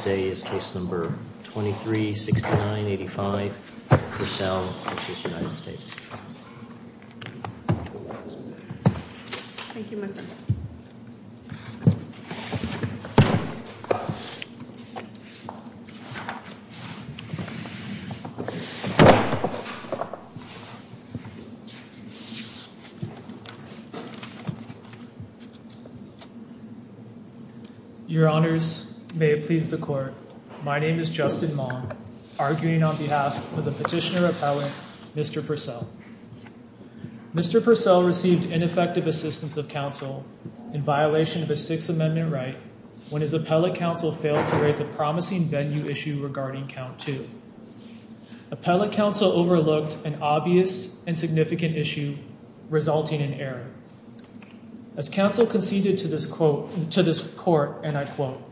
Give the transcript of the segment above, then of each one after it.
Today is case number 23-69-85, Purcell v. United States. Thank you, my friend. Your Honors, may it please the Court, my name is Justin Maugham, arguing on behalf of the prisoner appellate, Mr. Purcell. Mr. Purcell received ineffective assistance of counsel in violation of a Sixth Amendment right when his appellate counsel failed to raise a promising venue issue regarding Count Two. Appellate counsel overlooked an obvious and significant issue, resulting in error. As counsel conceded to this court, and I quote,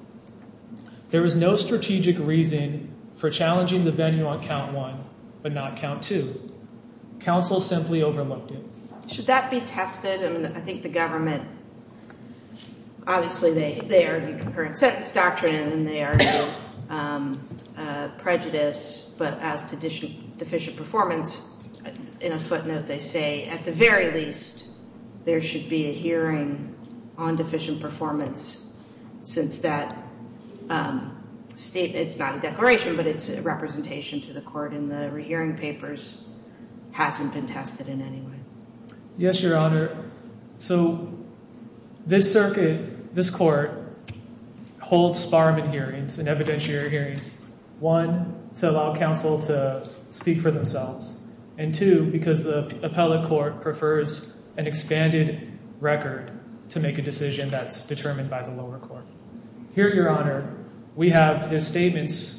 there is no strategic reason for challenging the venue on Count One, but not Count Two. Counsel simply overlooked it. Should that be tested? I mean, I think the government, obviously, they argue concurrent sentence doctrine, they argue prejudice, but as to deficient performance, in a footnote, they say, at the very least, there should be a hearing on deficient performance, since that statement, it's not a declaration, but it's a representation to the court, and the hearing papers hasn't been tested in any way. Yes, Your Honor. So, this circuit, this court, holds Sparman hearings and evidentiary hearings, one, to allow counsel to speak for themselves, and two, because the appellate court prefers an expanded record to make a decision that's determined by the lower court. Here, Your Honor, we have his statements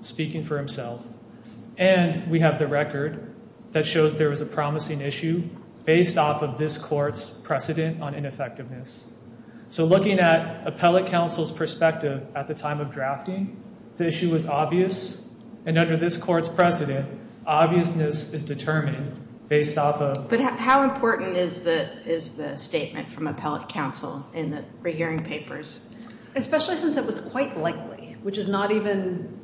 speaking for himself, and we have the record that shows there was a promising issue, based off of this court's precedent on ineffectiveness. So looking at appellate counsel's perspective at the time of drafting, the issue was obvious, and under this court's precedent, obviousness is determined based off of... But how important is the statement from appellate counsel in the rehearing papers? Especially since it was quite likely, which is not even,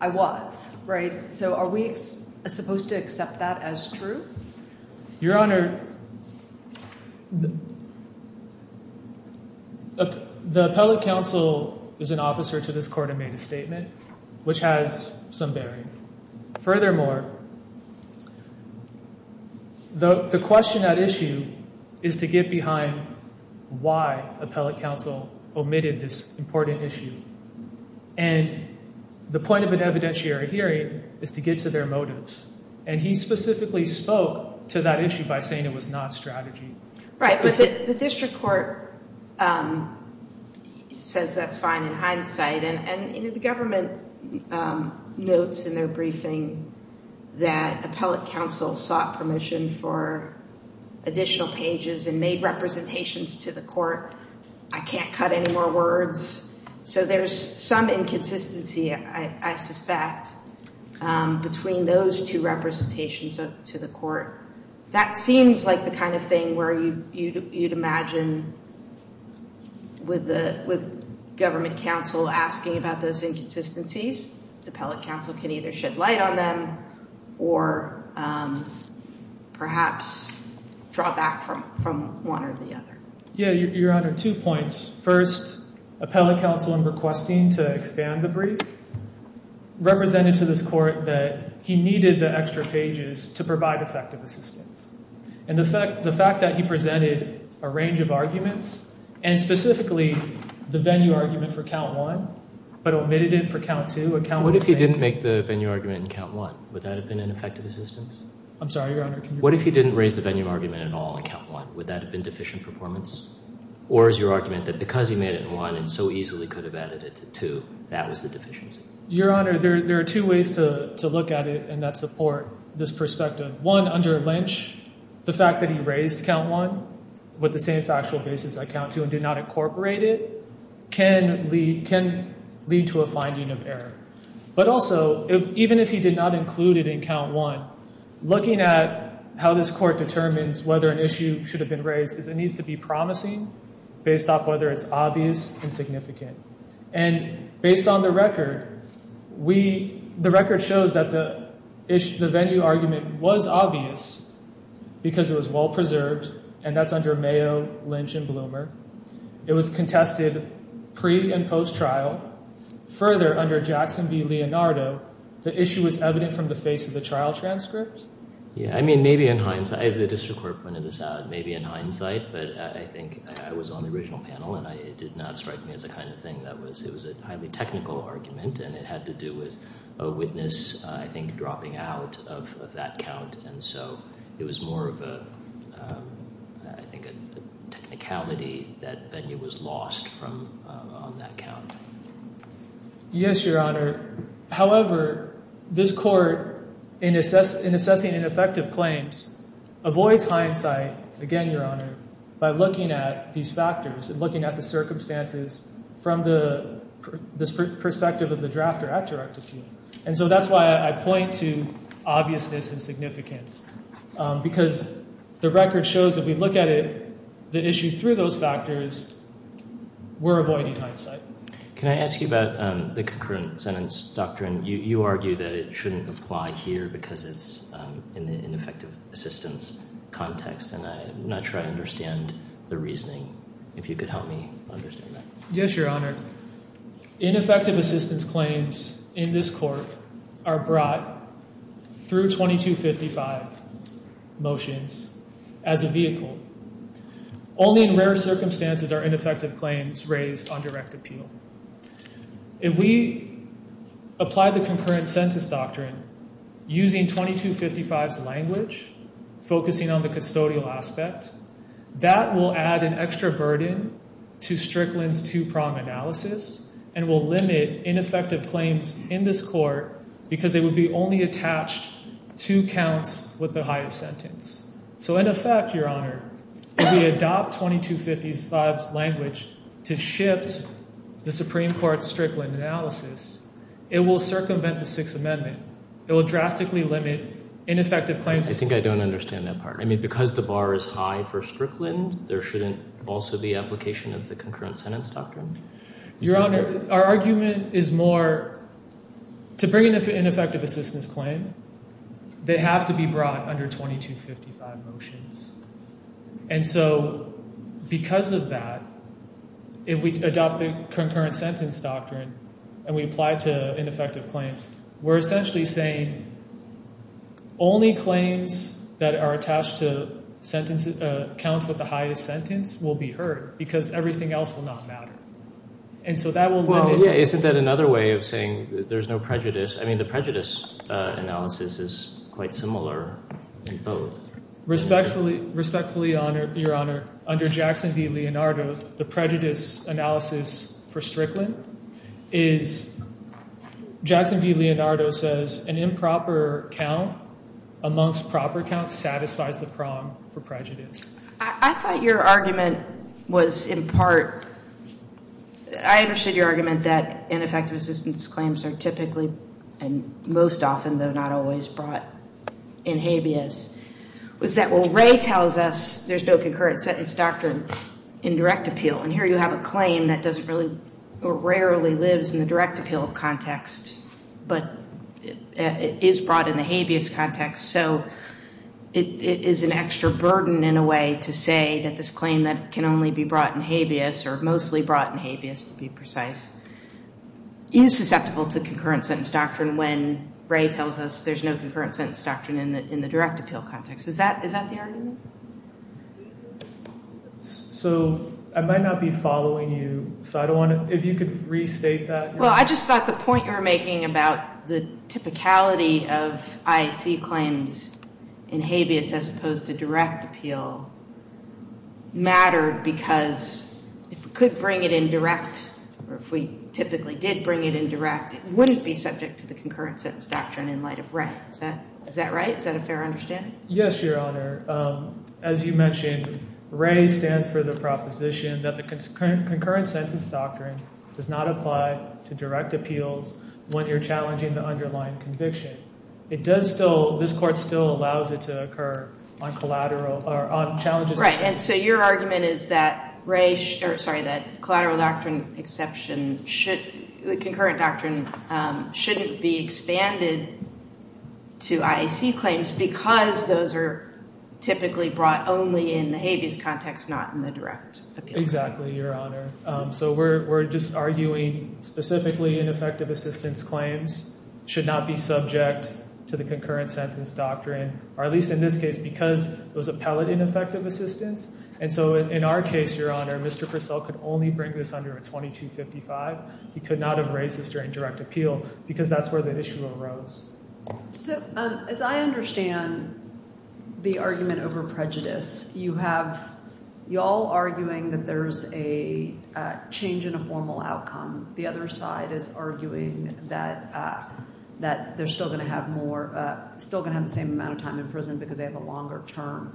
I was, right? So are we supposed to accept that as true? Your Honor, the appellate counsel is an officer to this court and made a statement, which has some bearing. Furthermore, the question at issue is to get behind why appellate counsel omitted this important issue, and the point of an evidentiary hearing is to get to their motives, and he specifically spoke to that issue by saying it was not strategy. Right, but the district court says that's fine in hindsight, and the government notes in their briefing that appellate counsel sought permission for additional pages and made representations to the court. I can't cut any more words. So there's some inconsistency, I suspect, between those two representations to the court. That seems like the kind of thing where you'd imagine with government counsel asking about those inconsistencies, the appellate counsel can either shed light on them or perhaps draw back from one or the other. Yeah, Your Honor, two points. First, appellate counsel in requesting to expand the brief represented to this court that he needed the extra pages to provide effective assistance, and the fact that he presented a range of arguments, and specifically the venue argument for count one, but omitted it for count two. What if he didn't make the venue argument in count one? Would that have been an effective assistance? I'm sorry, Your Honor, can you repeat that? What if he didn't raise the venue argument at all in count one? Would that have been deficient performance? Or is your argument that because he made it in one and so easily could have added it to two, that was the deficiency? Your Honor, there are two ways to look at it and that support this perspective. One, under Lynch, the fact that he raised count one with the same factual basis I count two and did not incorporate it can lead to a finding of error. But also, even if he did not include it in count one, looking at how this court determines whether an issue should have been raised is it needs to be promising based off whether it's obvious and significant. And based on the record, the record shows that the venue argument was obvious because it was well-preserved and that's under Mayo, Lynch, and Bloomer. It was contested pre- and post-trial. Further, under Jackson v. Leonardo, the issue was evident from the face of the trial transcript. I mean, maybe in hindsight, the district court pointed this out, maybe in hindsight, but I think I was on the original panel and it did not strike me as the kind of thing that was, it was a highly technical argument and it had to do with a witness, I think, dropping out of that count. And so it was more of a, I think, a technicality that venue was lost from on that count. Yes, Your Honor. However, this court, in assessing ineffective claims, avoids hindsight, again, Your Honor, by looking at these factors and looking at the circumstances from the perspective of the drafter at direct appeal. And so that's why I point to obviousness and significance. Because the record shows that if we look at it, the issue through those factors, we're avoiding hindsight. Can I ask you about the concurrent sentence doctrine? You argue that it shouldn't apply here because it's in the ineffective assistance context and I'm not sure I understand the reasoning. If you could help me understand that. Yes, Your Honor. Ineffective assistance claims in this court are brought through 2255 motions as a vehicle. Only in rare circumstances are ineffective claims raised on direct appeal. If we apply the concurrent sentence doctrine using 2255's language, focusing on the custodial aspect, that will add an extra burden to Strickland's two-prong analysis and will limit ineffective claims in this court because they would be only attached to counts with the highest sentence. So in effect, Your Honor, if we adopt 2255's language to shift the Supreme Court's Strickland analysis, it will circumvent the Sixth Amendment. It will drastically limit ineffective claims. I think I don't understand that part. I mean, because the bar is high for Strickland, there shouldn't also be application of the concurrent sentence doctrine? Your Honor, our argument is more to bring in an ineffective assistance claim, they have to be brought under 2255 motions. And so because of that, if we adopt the concurrent sentence doctrine and we apply it to ineffective claims, we're essentially saying only claims that are attached to counts with the highest sentence will be heard because everything else will not matter. And so that will limit- Well, yeah. Isn't that another way of saying there's no prejudice? I mean, the prejudice analysis is quite similar in both. Respectfully, Your Honor, under Jackson v. Leonardo, the prejudice analysis for Strickland is Jackson v. Leonardo says an improper count amongst proper counts satisfies the prong for prejudice. I thought your argument was in part, I understood your argument that ineffective assistance claims are typically, and most often though, not always brought in habeas, was that what Ray tells us, there's no concurrent sentence doctrine in direct appeal. And here you have a claim that doesn't really, or rarely lives in the direct appeal context, but it is brought in the habeas context. So it is an extra burden in a way to say that this claim that can only be brought in habeas or mostly brought in habeas, to be precise, is susceptible to concurrent sentence doctrine when Ray tells us there's no concurrent sentence doctrine in the direct appeal context. Is that the argument? So I might not be following you, so I don't want to- if you could restate that. Well, I just thought the point you were making about the typicality of IAC claims in habeas as opposed to direct appeal mattered because if we could bring it in direct, or if we typically did bring it in direct, it wouldn't be subject to the concurrent sentence doctrine in light of Ray. Is that right? Is that a fair understanding? Yes, Your Honor. As you mentioned, Ray stands for the proposition that the concurrent sentence doctrine does not apply to direct appeals when you're challenging the underlying conviction. It does still- this court still allows it to occur on collateral- or on challenges- Right, and so your argument is that Ray should- or sorry, that collateral doctrine exception should- the concurrent doctrine shouldn't be expanded to IAC claims because those are typically brought only in the habeas context, not in the direct appeal context. Exactly, Your Honor. So we're just arguing specifically ineffective assistance claims should not be subject to the concurrent sentence doctrine, or at least in this case, because it was appellate ineffective assistance. And so in our case, Your Honor, Mr. Purcell could only bring this under a 2255. He could not have raised this during direct appeal because that's where the issue arose. So as I understand the argument over prejudice, you have- you're all arguing that there's a change in a formal outcome. The other side is arguing that they're still going to have more- still going to have the same amount of time in prison because they have a longer term.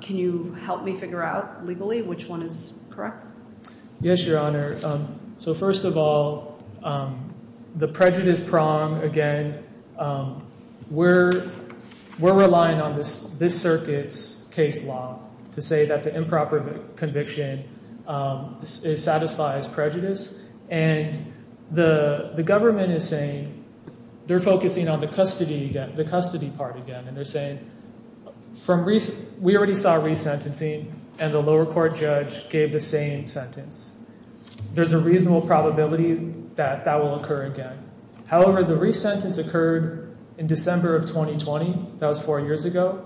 Can you help me figure out legally which one is correct? Yes, Your Honor. So first of all, the prejudice prong, again, we're relying on this circuit's case law to say that the improper conviction satisfies prejudice. And the government is saying- they're focusing on the custody part again, and they're saying From recent- we already saw resentencing, and the lower court judge gave the same sentence. There's a reasonable probability that that will occur again. However, the resentence occurred in December of 2020, that was four years ago.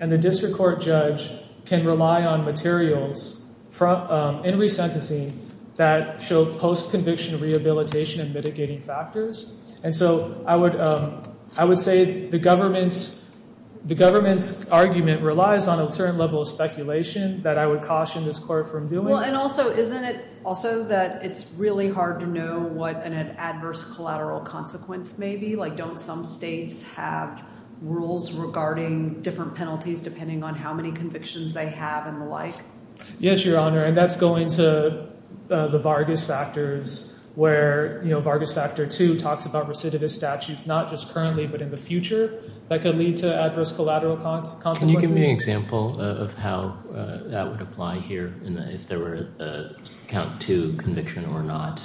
And the district court judge can rely on materials in resentencing that show post-conviction rehabilitation and mitigating factors. And so I would say the government's argument relies on a certain level of speculation that I would caution this court from doing. And also, isn't it also that it's really hard to know what an adverse collateral consequence may be? Like don't some states have rules regarding different penalties depending on how many convictions they have and the like? Yes, Your Honor. And that's going to the Vargas factors, where Vargas factor two talks about recidivist statutes, not just currently, but in the future, that could lead to adverse collateral consequences. Can you give me an example of how that would apply here, if there were a count two conviction or not?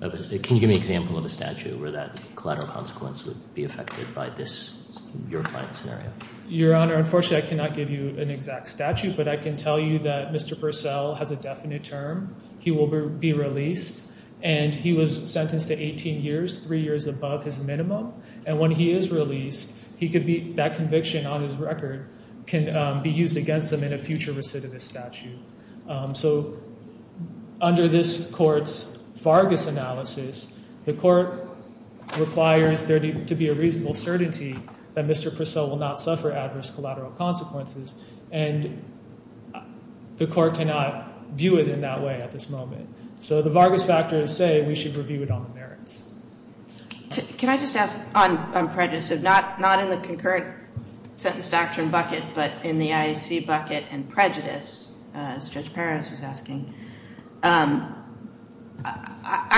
Can you give me an example of a statute where that collateral consequence would be affected by this, your client's scenario? Your Honor, unfortunately I cannot give you an exact statute, but I can tell you that Mr. Purcell has a definite term. He will be released. And he was sentenced to 18 years, three years above his minimum. And when he is released, that conviction on his record can be used against him in a future recidivist statute. So under this court's Vargas analysis, the court requires there to be a reasonable certainty that Mr. Purcell will not suffer adverse collateral consequences. And the court cannot view it in that way at this moment. So the Vargas factors say we should review it on the merits. Can I just ask on prejudice, so not in the concurrent sentence doctrine bucket, but in the IAC bucket and prejudice, as Judge Perez was asking, I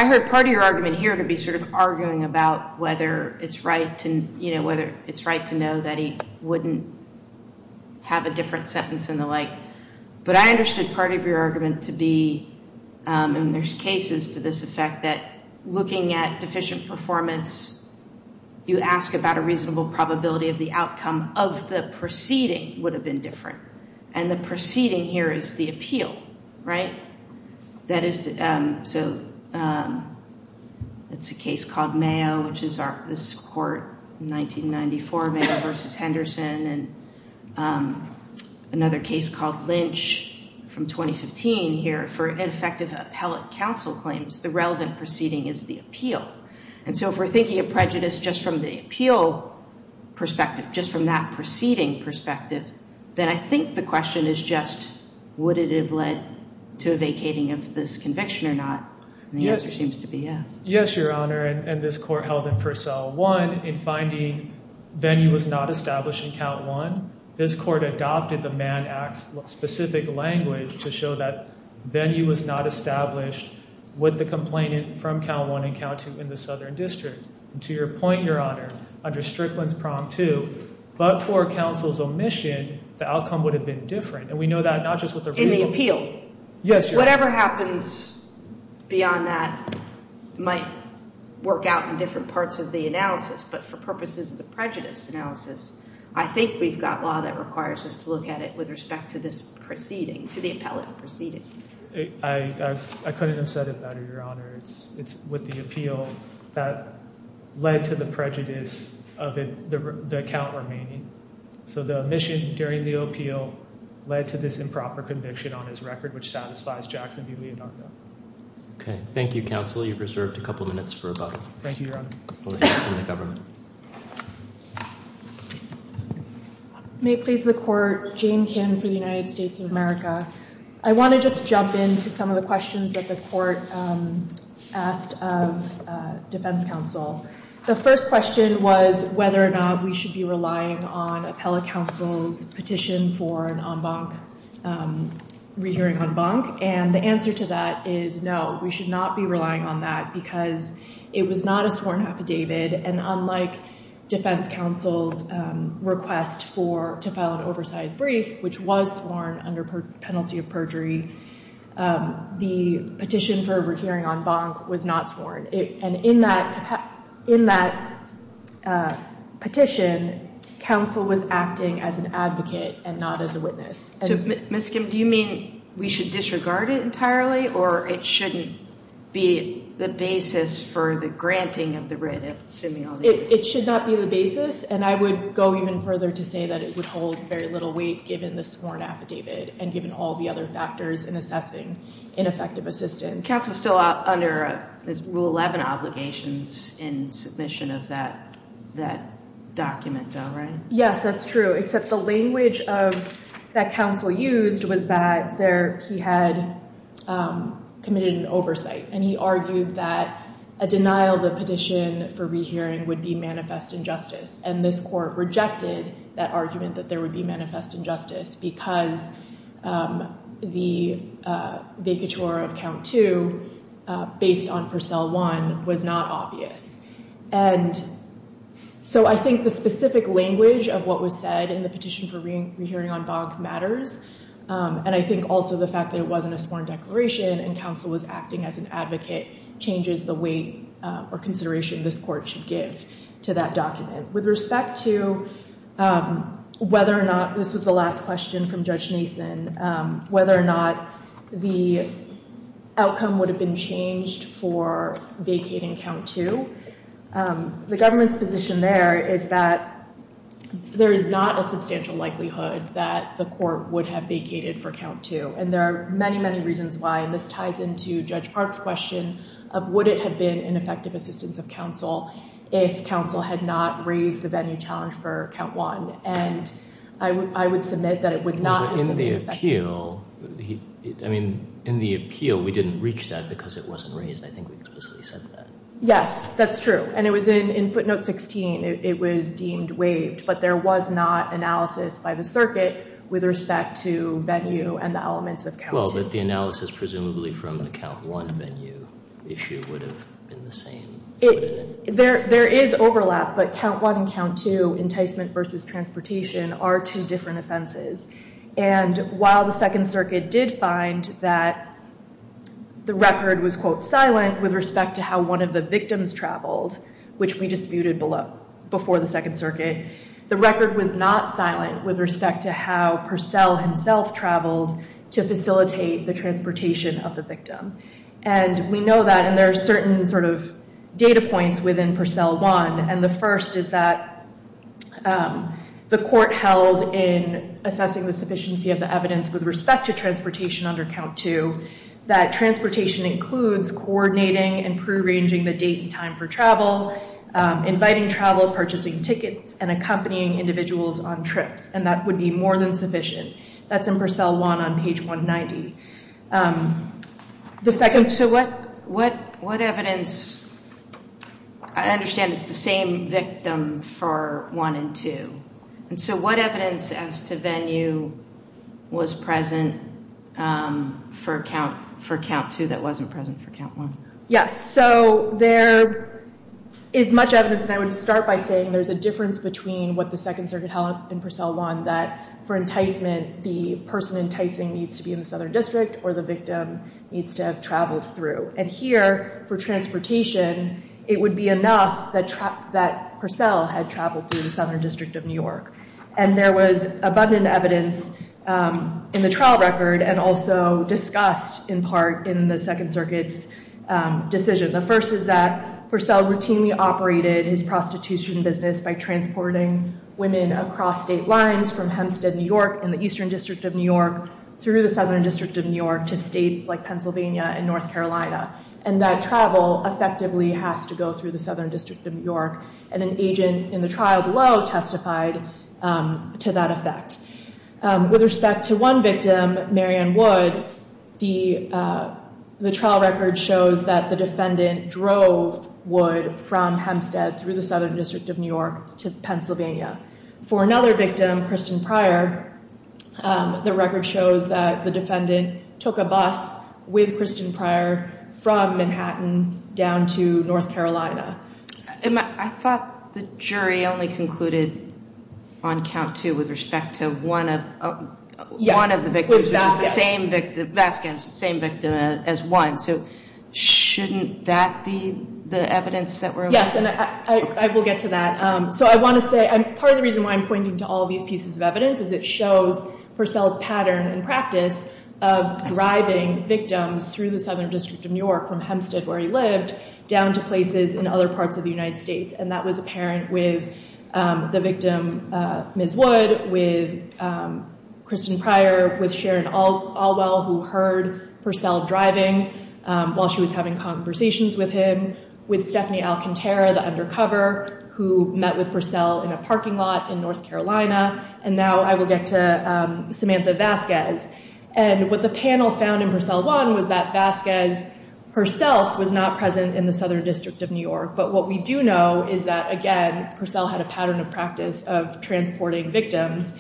heard part of your argument here to be sort of arguing about whether it's right to know that he wouldn't have a different sentence and the like. But I understood part of your argument to be, and there's cases to this effect, that looking at deficient performance, you ask about a reasonable probability of the outcome of the proceeding would have been different. And the proceeding here is the appeal, right? That is, so it's a case called Mayo, which is this court in 1994, Mayo versus Henderson, and another case called Lynch from 2015 here, for ineffective appellate counsel claims, the relevant proceeding is the appeal. And so if we're thinking of prejudice just from the appeal perspective, just from that proceeding perspective, then I think the question is just, would it have led to a vacating of this conviction or not? And the answer seems to be yes. Yes, Your Honor, and this court held him for cell one in finding venue was not established in count one. This court adopted the Mann Act's specific language to show that venue was not established with the complainant from count one and count two in the Southern District. And to your point, Your Honor, under Strickland's Prom 2, but for counsel's omission, the outcome would have been different. And we know that not just with the appeal. Yes, Your Honor. Whatever happens beyond that might work out in different parts of the analysis, but for purposes of the prejudice analysis, I think we've got law that requires us to look at it with respect to this proceeding, to the appellate proceeding. I couldn't have said it better, Your Honor. It's with the appeal that led to the prejudice of the account remaining. So the omission during the appeal led to this improper conviction on his record, which satisfies Jackson v. Leondardo. Okay. Thank you, counsel. You've reserved a couple minutes for about a couple minutes from the government. May it please the court, Jane Kim for the United States of America. I want to just jump into some of the questions that the court asked of defense counsel. The first question was whether or not we should be relying on appellate counsel's petition for an en banc, rehearing en banc, and the answer to that is no. We should not be relying on that because it was not a sworn affidavit, and unlike defense counsel's request for, to file an oversized brief, which was sworn under penalty of perjury, the petition for a rehearing en banc was not sworn. And in that petition, counsel was acting as an advocate and not as a witness. So Ms. Kim, do you mean we should disregard it entirely, or it shouldn't be the basis for the granting of the writ, assuming all the data? It should not be the basis, and I would go even further to say that it would hold very little weight given the sworn affidavit and given all the other factors in assessing ineffective assistance. Counsel's still under rule 11 obligations in submission of that document though, right? Yes, that's true, except the language that counsel used was that he had committed an oversight, and he argued that a denial of the petition for rehearing would be manifest injustice, and this court rejected that argument that there would be manifest injustice because the vacatur of count two based on Purcell one was not obvious. And so I think the specific language of what was said in the petition for rehearing en banc matters, and I think also the fact that it wasn't a sworn declaration and counsel was acting as an advocate changes the weight or consideration this court should give to that document. With respect to whether or not, this was the last question from Judge Nathan, whether or not the outcome would have been changed for vacating count two, the government's position there is that there is not a substantial likelihood that the court would have vacated for count two, and there are many, many reasons why, and this ties into Judge Park's question of would it have been ineffective assistance of counsel if counsel had not raised the venue challenge for count one, and I would submit that it would not have been effective. In the appeal, I mean, in the appeal we didn't reach that because it wasn't raised, I think we explicitly said that. Yes, that's true, and it was in footnote 16, it was deemed waived, but there was not analysis by the circuit with respect to venue and the elements of count two. Well, but the analysis presumably from the count one venue issue would have been the same. There is overlap, but count one and count two, enticement versus transportation, are two different offenses, and while the Second Circuit did find that the record was, quote, silent with respect to how one of the victims traveled, which we disputed before the Second Circuit, the record was not silent with respect to how Purcell himself traveled to facilitate the transportation of the victim. And we know that, and there are certain sort of data points within Purcell one, and the first is that the court held in assessing the sufficiency of the evidence with respect to transportation under count two, that transportation includes coordinating and prearranging the date and time for travel, inviting travel, purchasing tickets, and accompanying individuals on trips, and that would be more than sufficient. That's in Purcell one on page 190. The second. So what evidence, I understand it's the same victim for one and two, and so what evidence as to venue was present for count two that wasn't present for count one? Yes, so there is much evidence, and I would start by saying there's a difference between what the Second Circuit held in Purcell one that for enticement, the person enticing needs to be in the Southern District or the victim needs to have traveled through. And here, for transportation, it would be enough that Purcell had traveled through the Southern District of New York. And there was abundant evidence in the trial record and also discussed in part in the Second Circuit's decision. The first is that Purcell routinely operated his prostitution business by transporting women across state lines from Hempstead, New York and the Eastern District of New York through the Southern District of New York to states like Pennsylvania and North Carolina. And that travel effectively has to go through the Southern District of New York, and an agent in the trial below testified to that effect. With respect to one victim, Marianne Wood, the trial record shows that the defendant drove Wood from Hempstead through the Southern District of New York to Pennsylvania. For another victim, Kristen Pryor, the record shows that the defendant took a bus with Kristen Pryor from Manhattan down to North Carolina. I thought the jury only concluded on count two with respect to one of the victims, which is the same victim, Vasquez, the same victim as one. So shouldn't that be the evidence that we're looking for? Yes, and I will get to that. So I want to say, part of the reason why I'm pointing to all these pieces of evidence is it shows Purcell's pattern and practice of driving victims through the Southern District of New York from Hempstead, where he lived, down to places in other parts of the United States. And that was apparent with the victim, Ms. Wood, with Kristen Pryor, with Sharon Alwell, who heard Purcell driving while she was having conversations with him, with Stephanie Alcantara, the undercover, who met with Purcell in a parking lot in North Carolina. And now I will get to Samantha Vasquez. And what the panel found in Purcell 1 was that Vasquez herself was not present in the Southern District of New York. But what we do know is that, again, Purcell had a pattern of practice of transporting victims.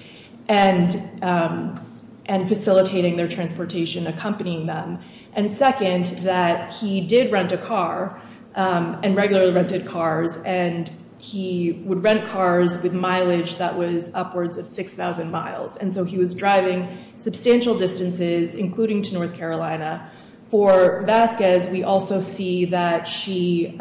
And facilitating their transportation, accompanying them. And second, that he did rent a car, and regularly rented cars. And he would rent cars with mileage that was upwards of 6,000 miles. And so he was driving substantial distances, including to North Carolina. For Vasquez, we also see that she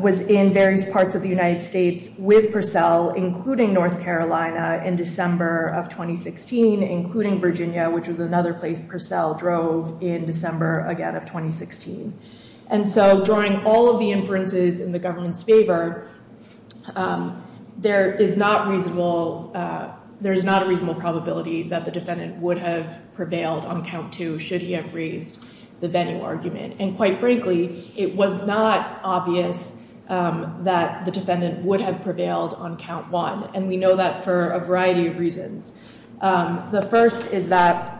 was in various parts of the United States with Purcell, including North Carolina, in December of 2016. Including Virginia, which was another place Purcell drove in December, again, of 2016. And so, drawing all of the inferences in the government's favor, there is not reasonable, there is not a reasonable probability that the defendant would have prevailed on count two, should he have raised the venue argument. And quite frankly, it was not obvious that the defendant would have prevailed on count one. And we know that for a variety of reasons. The first is that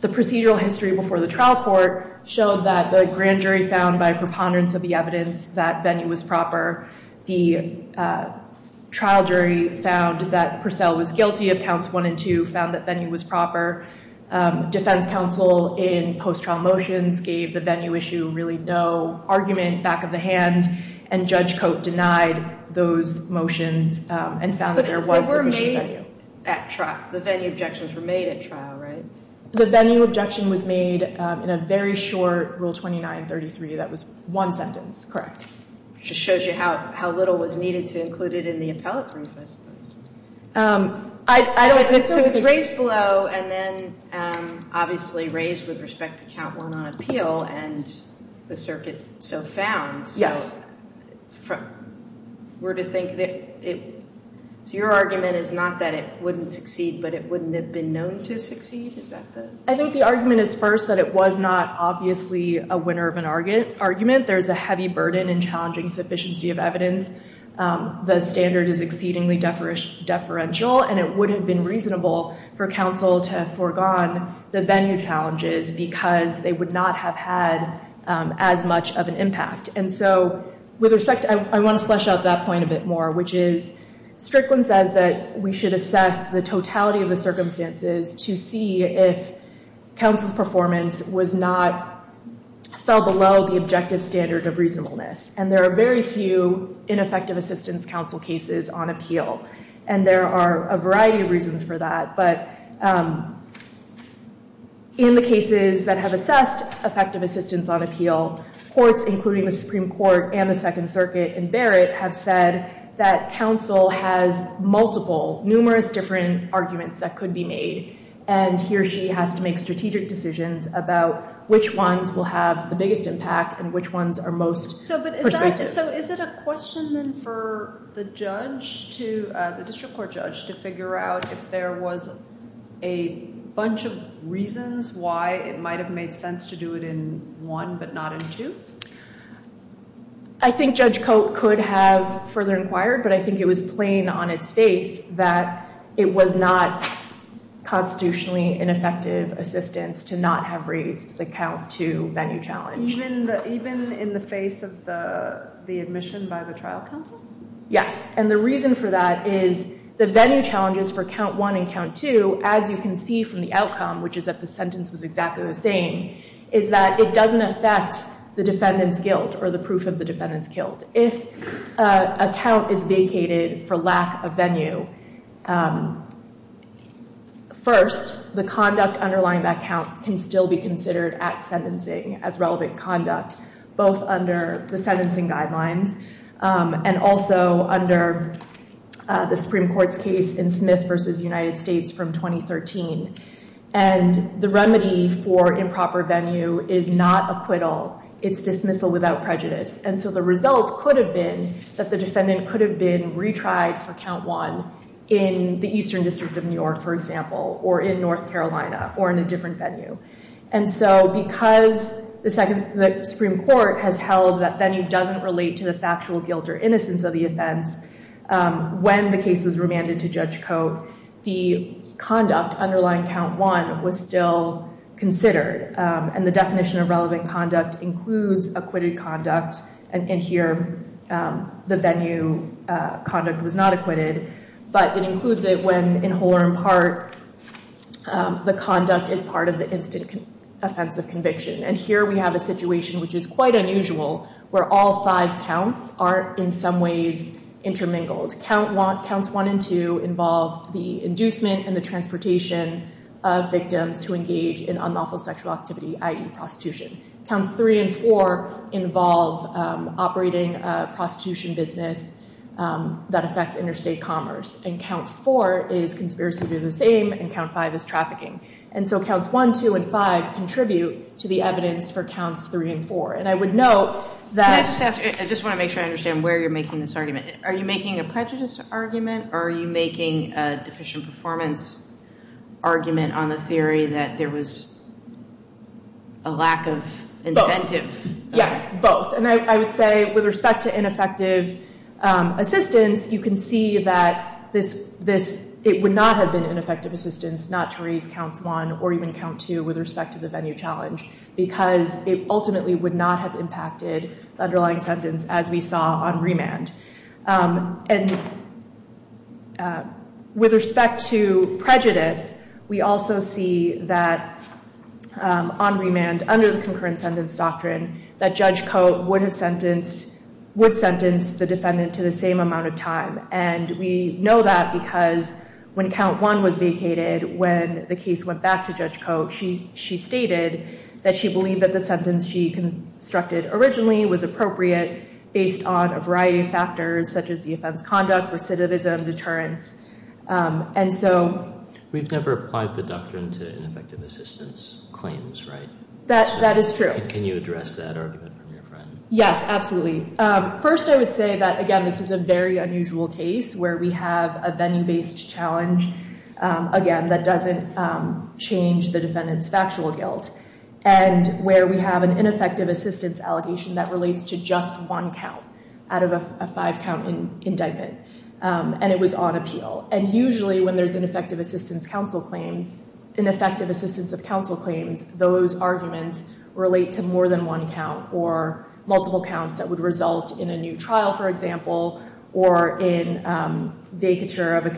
the procedural history before the trial court showed that the grand jury found by preponderance of the evidence that venue was proper. The trial jury found that Purcell was guilty of counts one and two. Found that venue was proper. Defense counsel in post-trial motions gave the venue issue really no argument, back of the hand, and Judge Cote denied those motions and found that there was a venue. The venue objections were made at trial, right? The venue objection was made in a very short Rule 2933. That was one sentence, correct. Just shows you how little was needed to include it in the appellate brief, I suppose. So it's raised below and then obviously raised with respect to count one on appeal and the circuit so found. So we're to think that it, so your argument is not that it wouldn't succeed, but it wouldn't have been known to succeed, is that the? I think the argument is first that it was not obviously a winner of an argument. There's a heavy burden in challenging sufficiency of evidence. The standard is exceedingly deferential and it would have been reasonable for counsel to have foregone the venue challenges because they would not have had as much of an impact. And so, with respect, I want to flesh out that point a bit more, which is, Strickland says that we should assess the totality of the circumstances to see if counsel's performance was not, fell below the objective standard of reasonableness. And there are very few ineffective assistance counsel cases on appeal. And there are a variety of reasons for that. But in the cases that have assessed effective assistance on appeal, courts including the Supreme Court and the Second Circuit and Barrett have said that counsel has multiple, numerous different arguments that could be made. And he or she has to make strategic decisions about which ones will have the biggest impact and which ones are most persuasive. So, is it a question then for the judge to, the district court judge, to figure out if there was a bunch of reasons why it might have made sense to do it in one but not in two? I think Judge Cote could have further inquired, but I think it was plain on its face that it was not constitutionally ineffective assistance to not have raised the count to venue challenge. Even in the face of the admission by the trial counsel? Yes, and the reason for that is the venue challenges for count one and count two, as you can see from the outcome, which is that the sentence was exactly the same, is that it doesn't affect the defendant's guilt or the proof of the defendant's guilt. If a count is vacated for lack of venue, first, the conduct underlying that count can still be considered at sentencing as relevant conduct, both under the sentencing guidelines and also under the Supreme Court's case in Smith v. United States from 2013. And the remedy for improper venue is not acquittal. It's dismissal without prejudice. And so the result could have been that the defendant could have been retried for count one in the Eastern District of New York, for example, or in North Carolina, or in a different venue. And so because the Supreme Court has held that venue doesn't relate to the factual guilt or innocence of the offense, when the case was remanded to Judge Cote, the conduct underlying count one was still considered. And the definition of relevant conduct includes acquitted conduct. And here, the venue conduct was not acquitted. But it includes it when, in whole or in part, the conduct is part of the instant offense of conviction. And here we have a situation which is quite unusual, where all five counts are, in some ways, intermingled. Counts one and two involve the inducement and the transportation of victims to engage in unlawful sexual activity, i.e. prostitution. Counts three and four involve operating a prostitution business that affects interstate commerce. And count four is conspiracy to do the same, and count five is trafficking. And so counts one, two, and five contribute to the evidence for counts three and four. And I would note that- I just want to make sure I understand where you're making this argument. Are you making a prejudice argument, or are you making a deficient performance argument on the theory that there was a lack of incentive? Yes, both. And I would say, with respect to ineffective assistance, you can see that it would not have been ineffective assistance not to raise counts one or even count two with respect to the venue challenge. Because it ultimately would not have impacted the underlying sentence, as we saw on remand. And with respect to prejudice, we also see that on remand, under the concurrent sentence doctrine, that Judge Cote would sentence the defendant to the same amount of time. And we know that because when count one was vacated, when the case went back to Judge Cote, she stated that she believed that the sentence she constructed originally was appropriate based on a variety of factors, such as the offense conduct, recidivism, deterrence. And so- We've never applied the doctrine to ineffective assistance claims, right? That is true. Can you address that, or hear it from your friend? Yes, absolutely. First, I would say that, again, this is a very unusual case where we have a venue-based challenge, again, that doesn't change the defendant's factual guilt. And where we have an ineffective assistance allegation that relates to just one count out of a five-count indictment, and it was on appeal. And usually, when there's ineffective assistance of counsel claims, those arguments relate to more than one count or multiple counts that would result in a new trial, for example. Or in vacature of a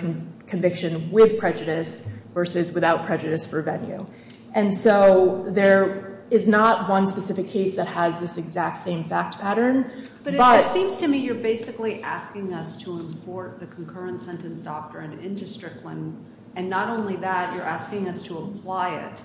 conviction with prejudice versus without prejudice for venue. And so there is not one specific case that has this exact same fact pattern. But it seems to me you're basically asking us to import the concurrent sentence doctrine into Strickland. And not only that, you're asking us to apply it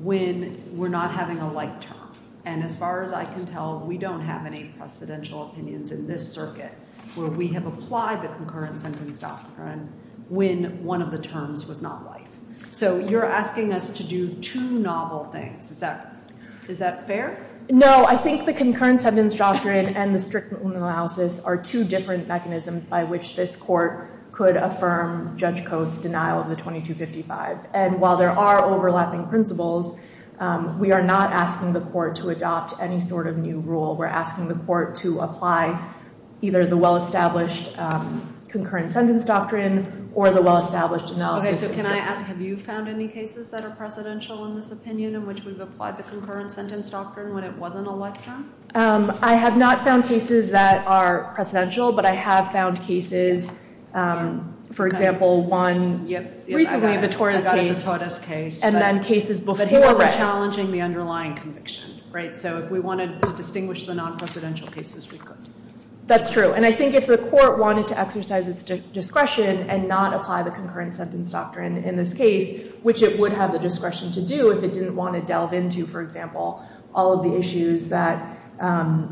when we're not having a light term. And as far as I can tell, we don't have any precedential opinions in this circuit where we have applied the concurrent sentence doctrine when one of the terms was not light. So you're asking us to do two novel things, is that fair? No, I think the concurrent sentence doctrine and the Strickland analysis are two different mechanisms by which this court could affirm Judge Coates' denial of the 2255. And while there are overlapping principles, we are not asking the court to adopt any sort of new rule. We're asking the court to apply either the well-established concurrent sentence doctrine or the well-established analysis. Okay, so can I ask, have you found any cases that are precedential in this opinion, in which we've applied the concurrent sentence doctrine when it wasn't a light term? I have not found cases that are precedential, but I have found cases, for example, one- Recently, the Tordes case. I got the Tordes case. And then cases before that. But we were challenging the underlying conviction, right? So if we wanted to distinguish the non-precedential cases, we could. That's true. And I think if the court wanted to exercise its discretion and not apply the concurrent sentence doctrine in this case, which it would have the discretion to do if it didn't want to delve into, for example, all of the issues that are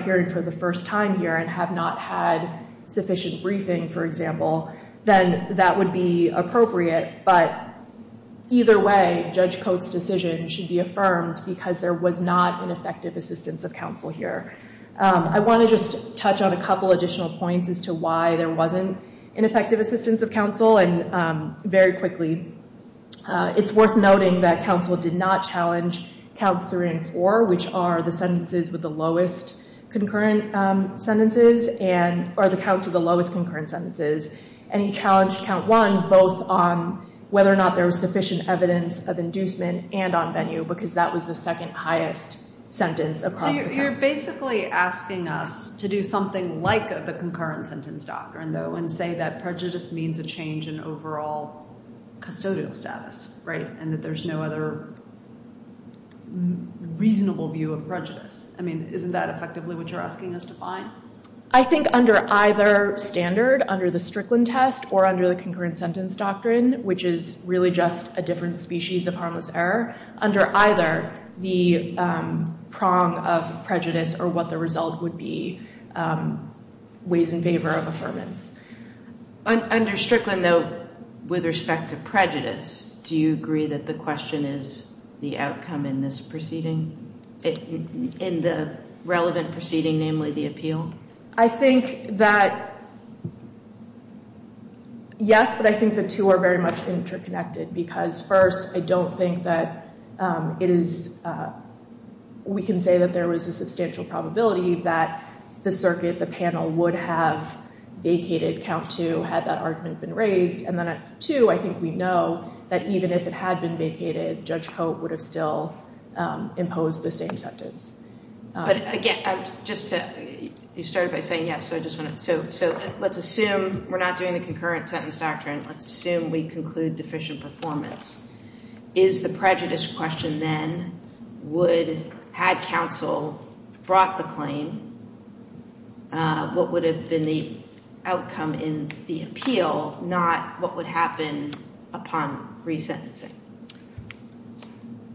appearing for the first time here and have not had sufficient briefing, for example, then that would be appropriate. But either way, Judge Coates' decision should be affirmed because there was not an effective assistance of counsel here. I want to just touch on a couple additional points as to why there wasn't an effective assistance of counsel. And very quickly, it's worth noting that counsel did not challenge counts three and four, which are the sentences with the lowest concurrent sentences and- or the counts with the lowest concurrent sentences. And he challenged count one, both on whether or not there was sufficient evidence of inducement and on venue, because that was the second highest sentence across the counts. So you're basically asking us to do something like the concurrent sentence doctrine, though, and say that prejudice means a change in overall custodial status, right? And that there's no other reasonable view of prejudice. I mean, isn't that effectively what you're asking us to find? I think under either standard, under the Strickland test or under the concurrent sentence doctrine, which is really just a different species of harmless error, under either the prong of prejudice or what the result would be, ways in favor of affirmance. Under Strickland, though, with respect to prejudice, do you agree that the question is the outcome in this proceeding? In the relevant proceeding, namely the appeal? I think that, yes, but I think the two are very much interconnected. Because first, I don't think that it is- we can say that there was a substantial probability that the circuit, the panel, would have vacated count two had that argument been raised. And then two, I think we know that even if it had been vacated, Judge Cote would have still imposed the same sentence. But again, just to- you started by saying yes, so I just want to- so let's assume we're not doing the concurrent sentence doctrine. Let's assume we conclude deficient performance. Is the prejudice question then, would- had counsel brought the claim, what would have been the outcome in the appeal, not what would happen upon resentencing?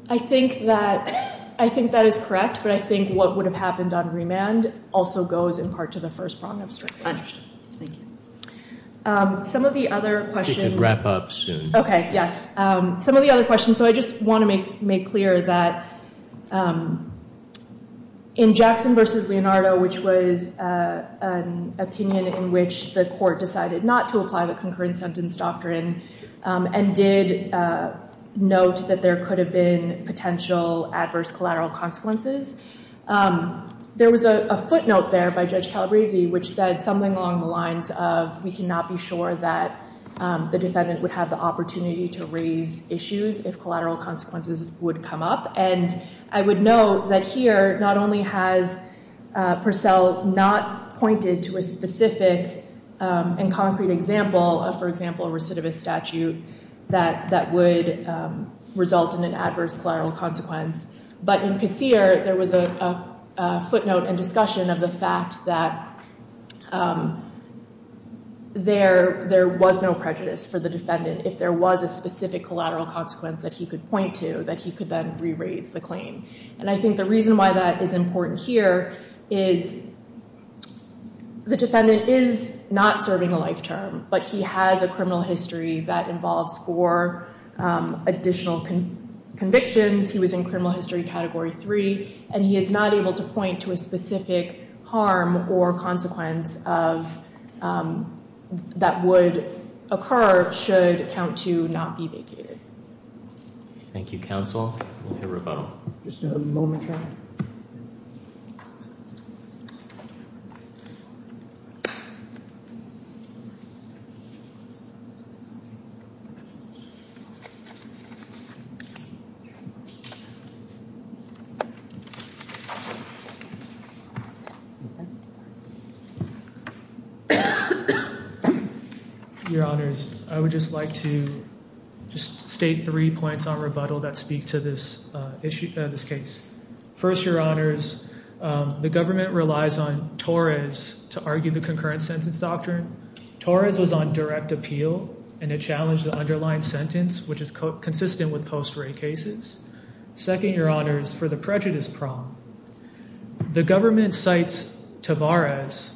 I think that- I think that is correct. But I think what would have happened on remand also goes in part to the first prong of Strickland. Thank you. Some of the other questions- Wrap up soon. Okay, yes. Some of the other questions, so I just want to make clear that in Jackson versus Leonardo, which was an opinion in which the court decided not to apply the concurrent sentence doctrine and did note that there could have been potential adverse collateral consequences, there was a footnote there by Judge Calabresi which said something along the lines of, we cannot be sure that the defendant would have the opportunity to raise issues if collateral consequences would come up. And I would note that here, not only has Purcell not pointed to a specific and concrete example of, for example, a recidivist statute that would result in an adverse collateral consequence, but in Kassir, there was a footnote and discussion of the fact that there was no prejudice for the defendant if there was a specific collateral consequence that he could point to, that he could then re-raise the claim. And I think the reason why that is important here is the defendant is not serving a life term, but he has a criminal history that involves four additional convictions. He was in criminal history category three, and he is not able to point to a specific harm or consequence that would occur should count two not be vacated. Thank you, counsel. We'll hear rebuttal. Just a moment, Your Honor. Your Honors, I would just like to just state three points on rebuttal that speak to this case. First, Your Honors, the government relies on Torres to argue the concurrent sentence doctrine. Torres was on direct appeal, and it challenged the underlying sentence, which is consistent with post-ray cases. Second, Your Honors, for the prejudice prong, the government cites Torres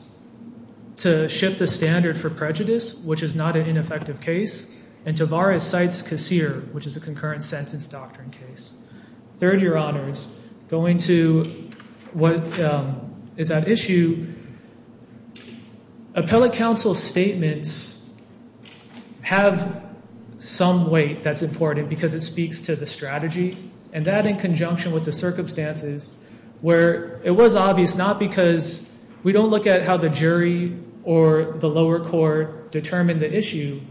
to shift the standard for prejudice, which is not an ineffective case, and Torres cites Kassir, which is a concurrent sentence doctrine case. Third, Your Honors, going to what is at issue, appellate counsel's statements have some weight that's important because it speaks to the strategy, and that in conjunction with the circumstances where it was obvious not because we don't look at how the jury or the lower court determined the issue.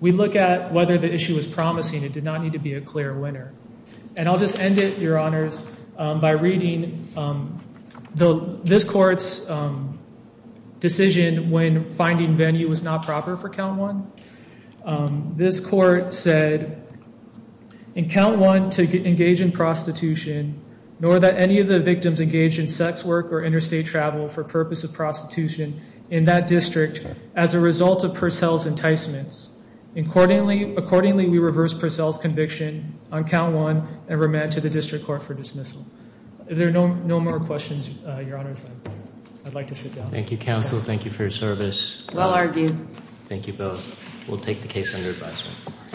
We look at whether the issue is promising. It did not need to be a clear winner. And I'll just end it, Your Honors, by reading this court's decision when finding venue was not proper for count one. This court said, in count one, to engage in prostitution, nor that any of the victims engage in sex work or interstate travel for purpose of prostitution in that district as a result of Purcell's enticements. Accordingly, we reverse Purcell's conviction on count one and remand to the district court for dismissal. If there are no more questions, Your Honors, I'd like to sit down. Thank you, counsel. Thank you for your service. Well argued. Thank you both. We'll take the case under advisement.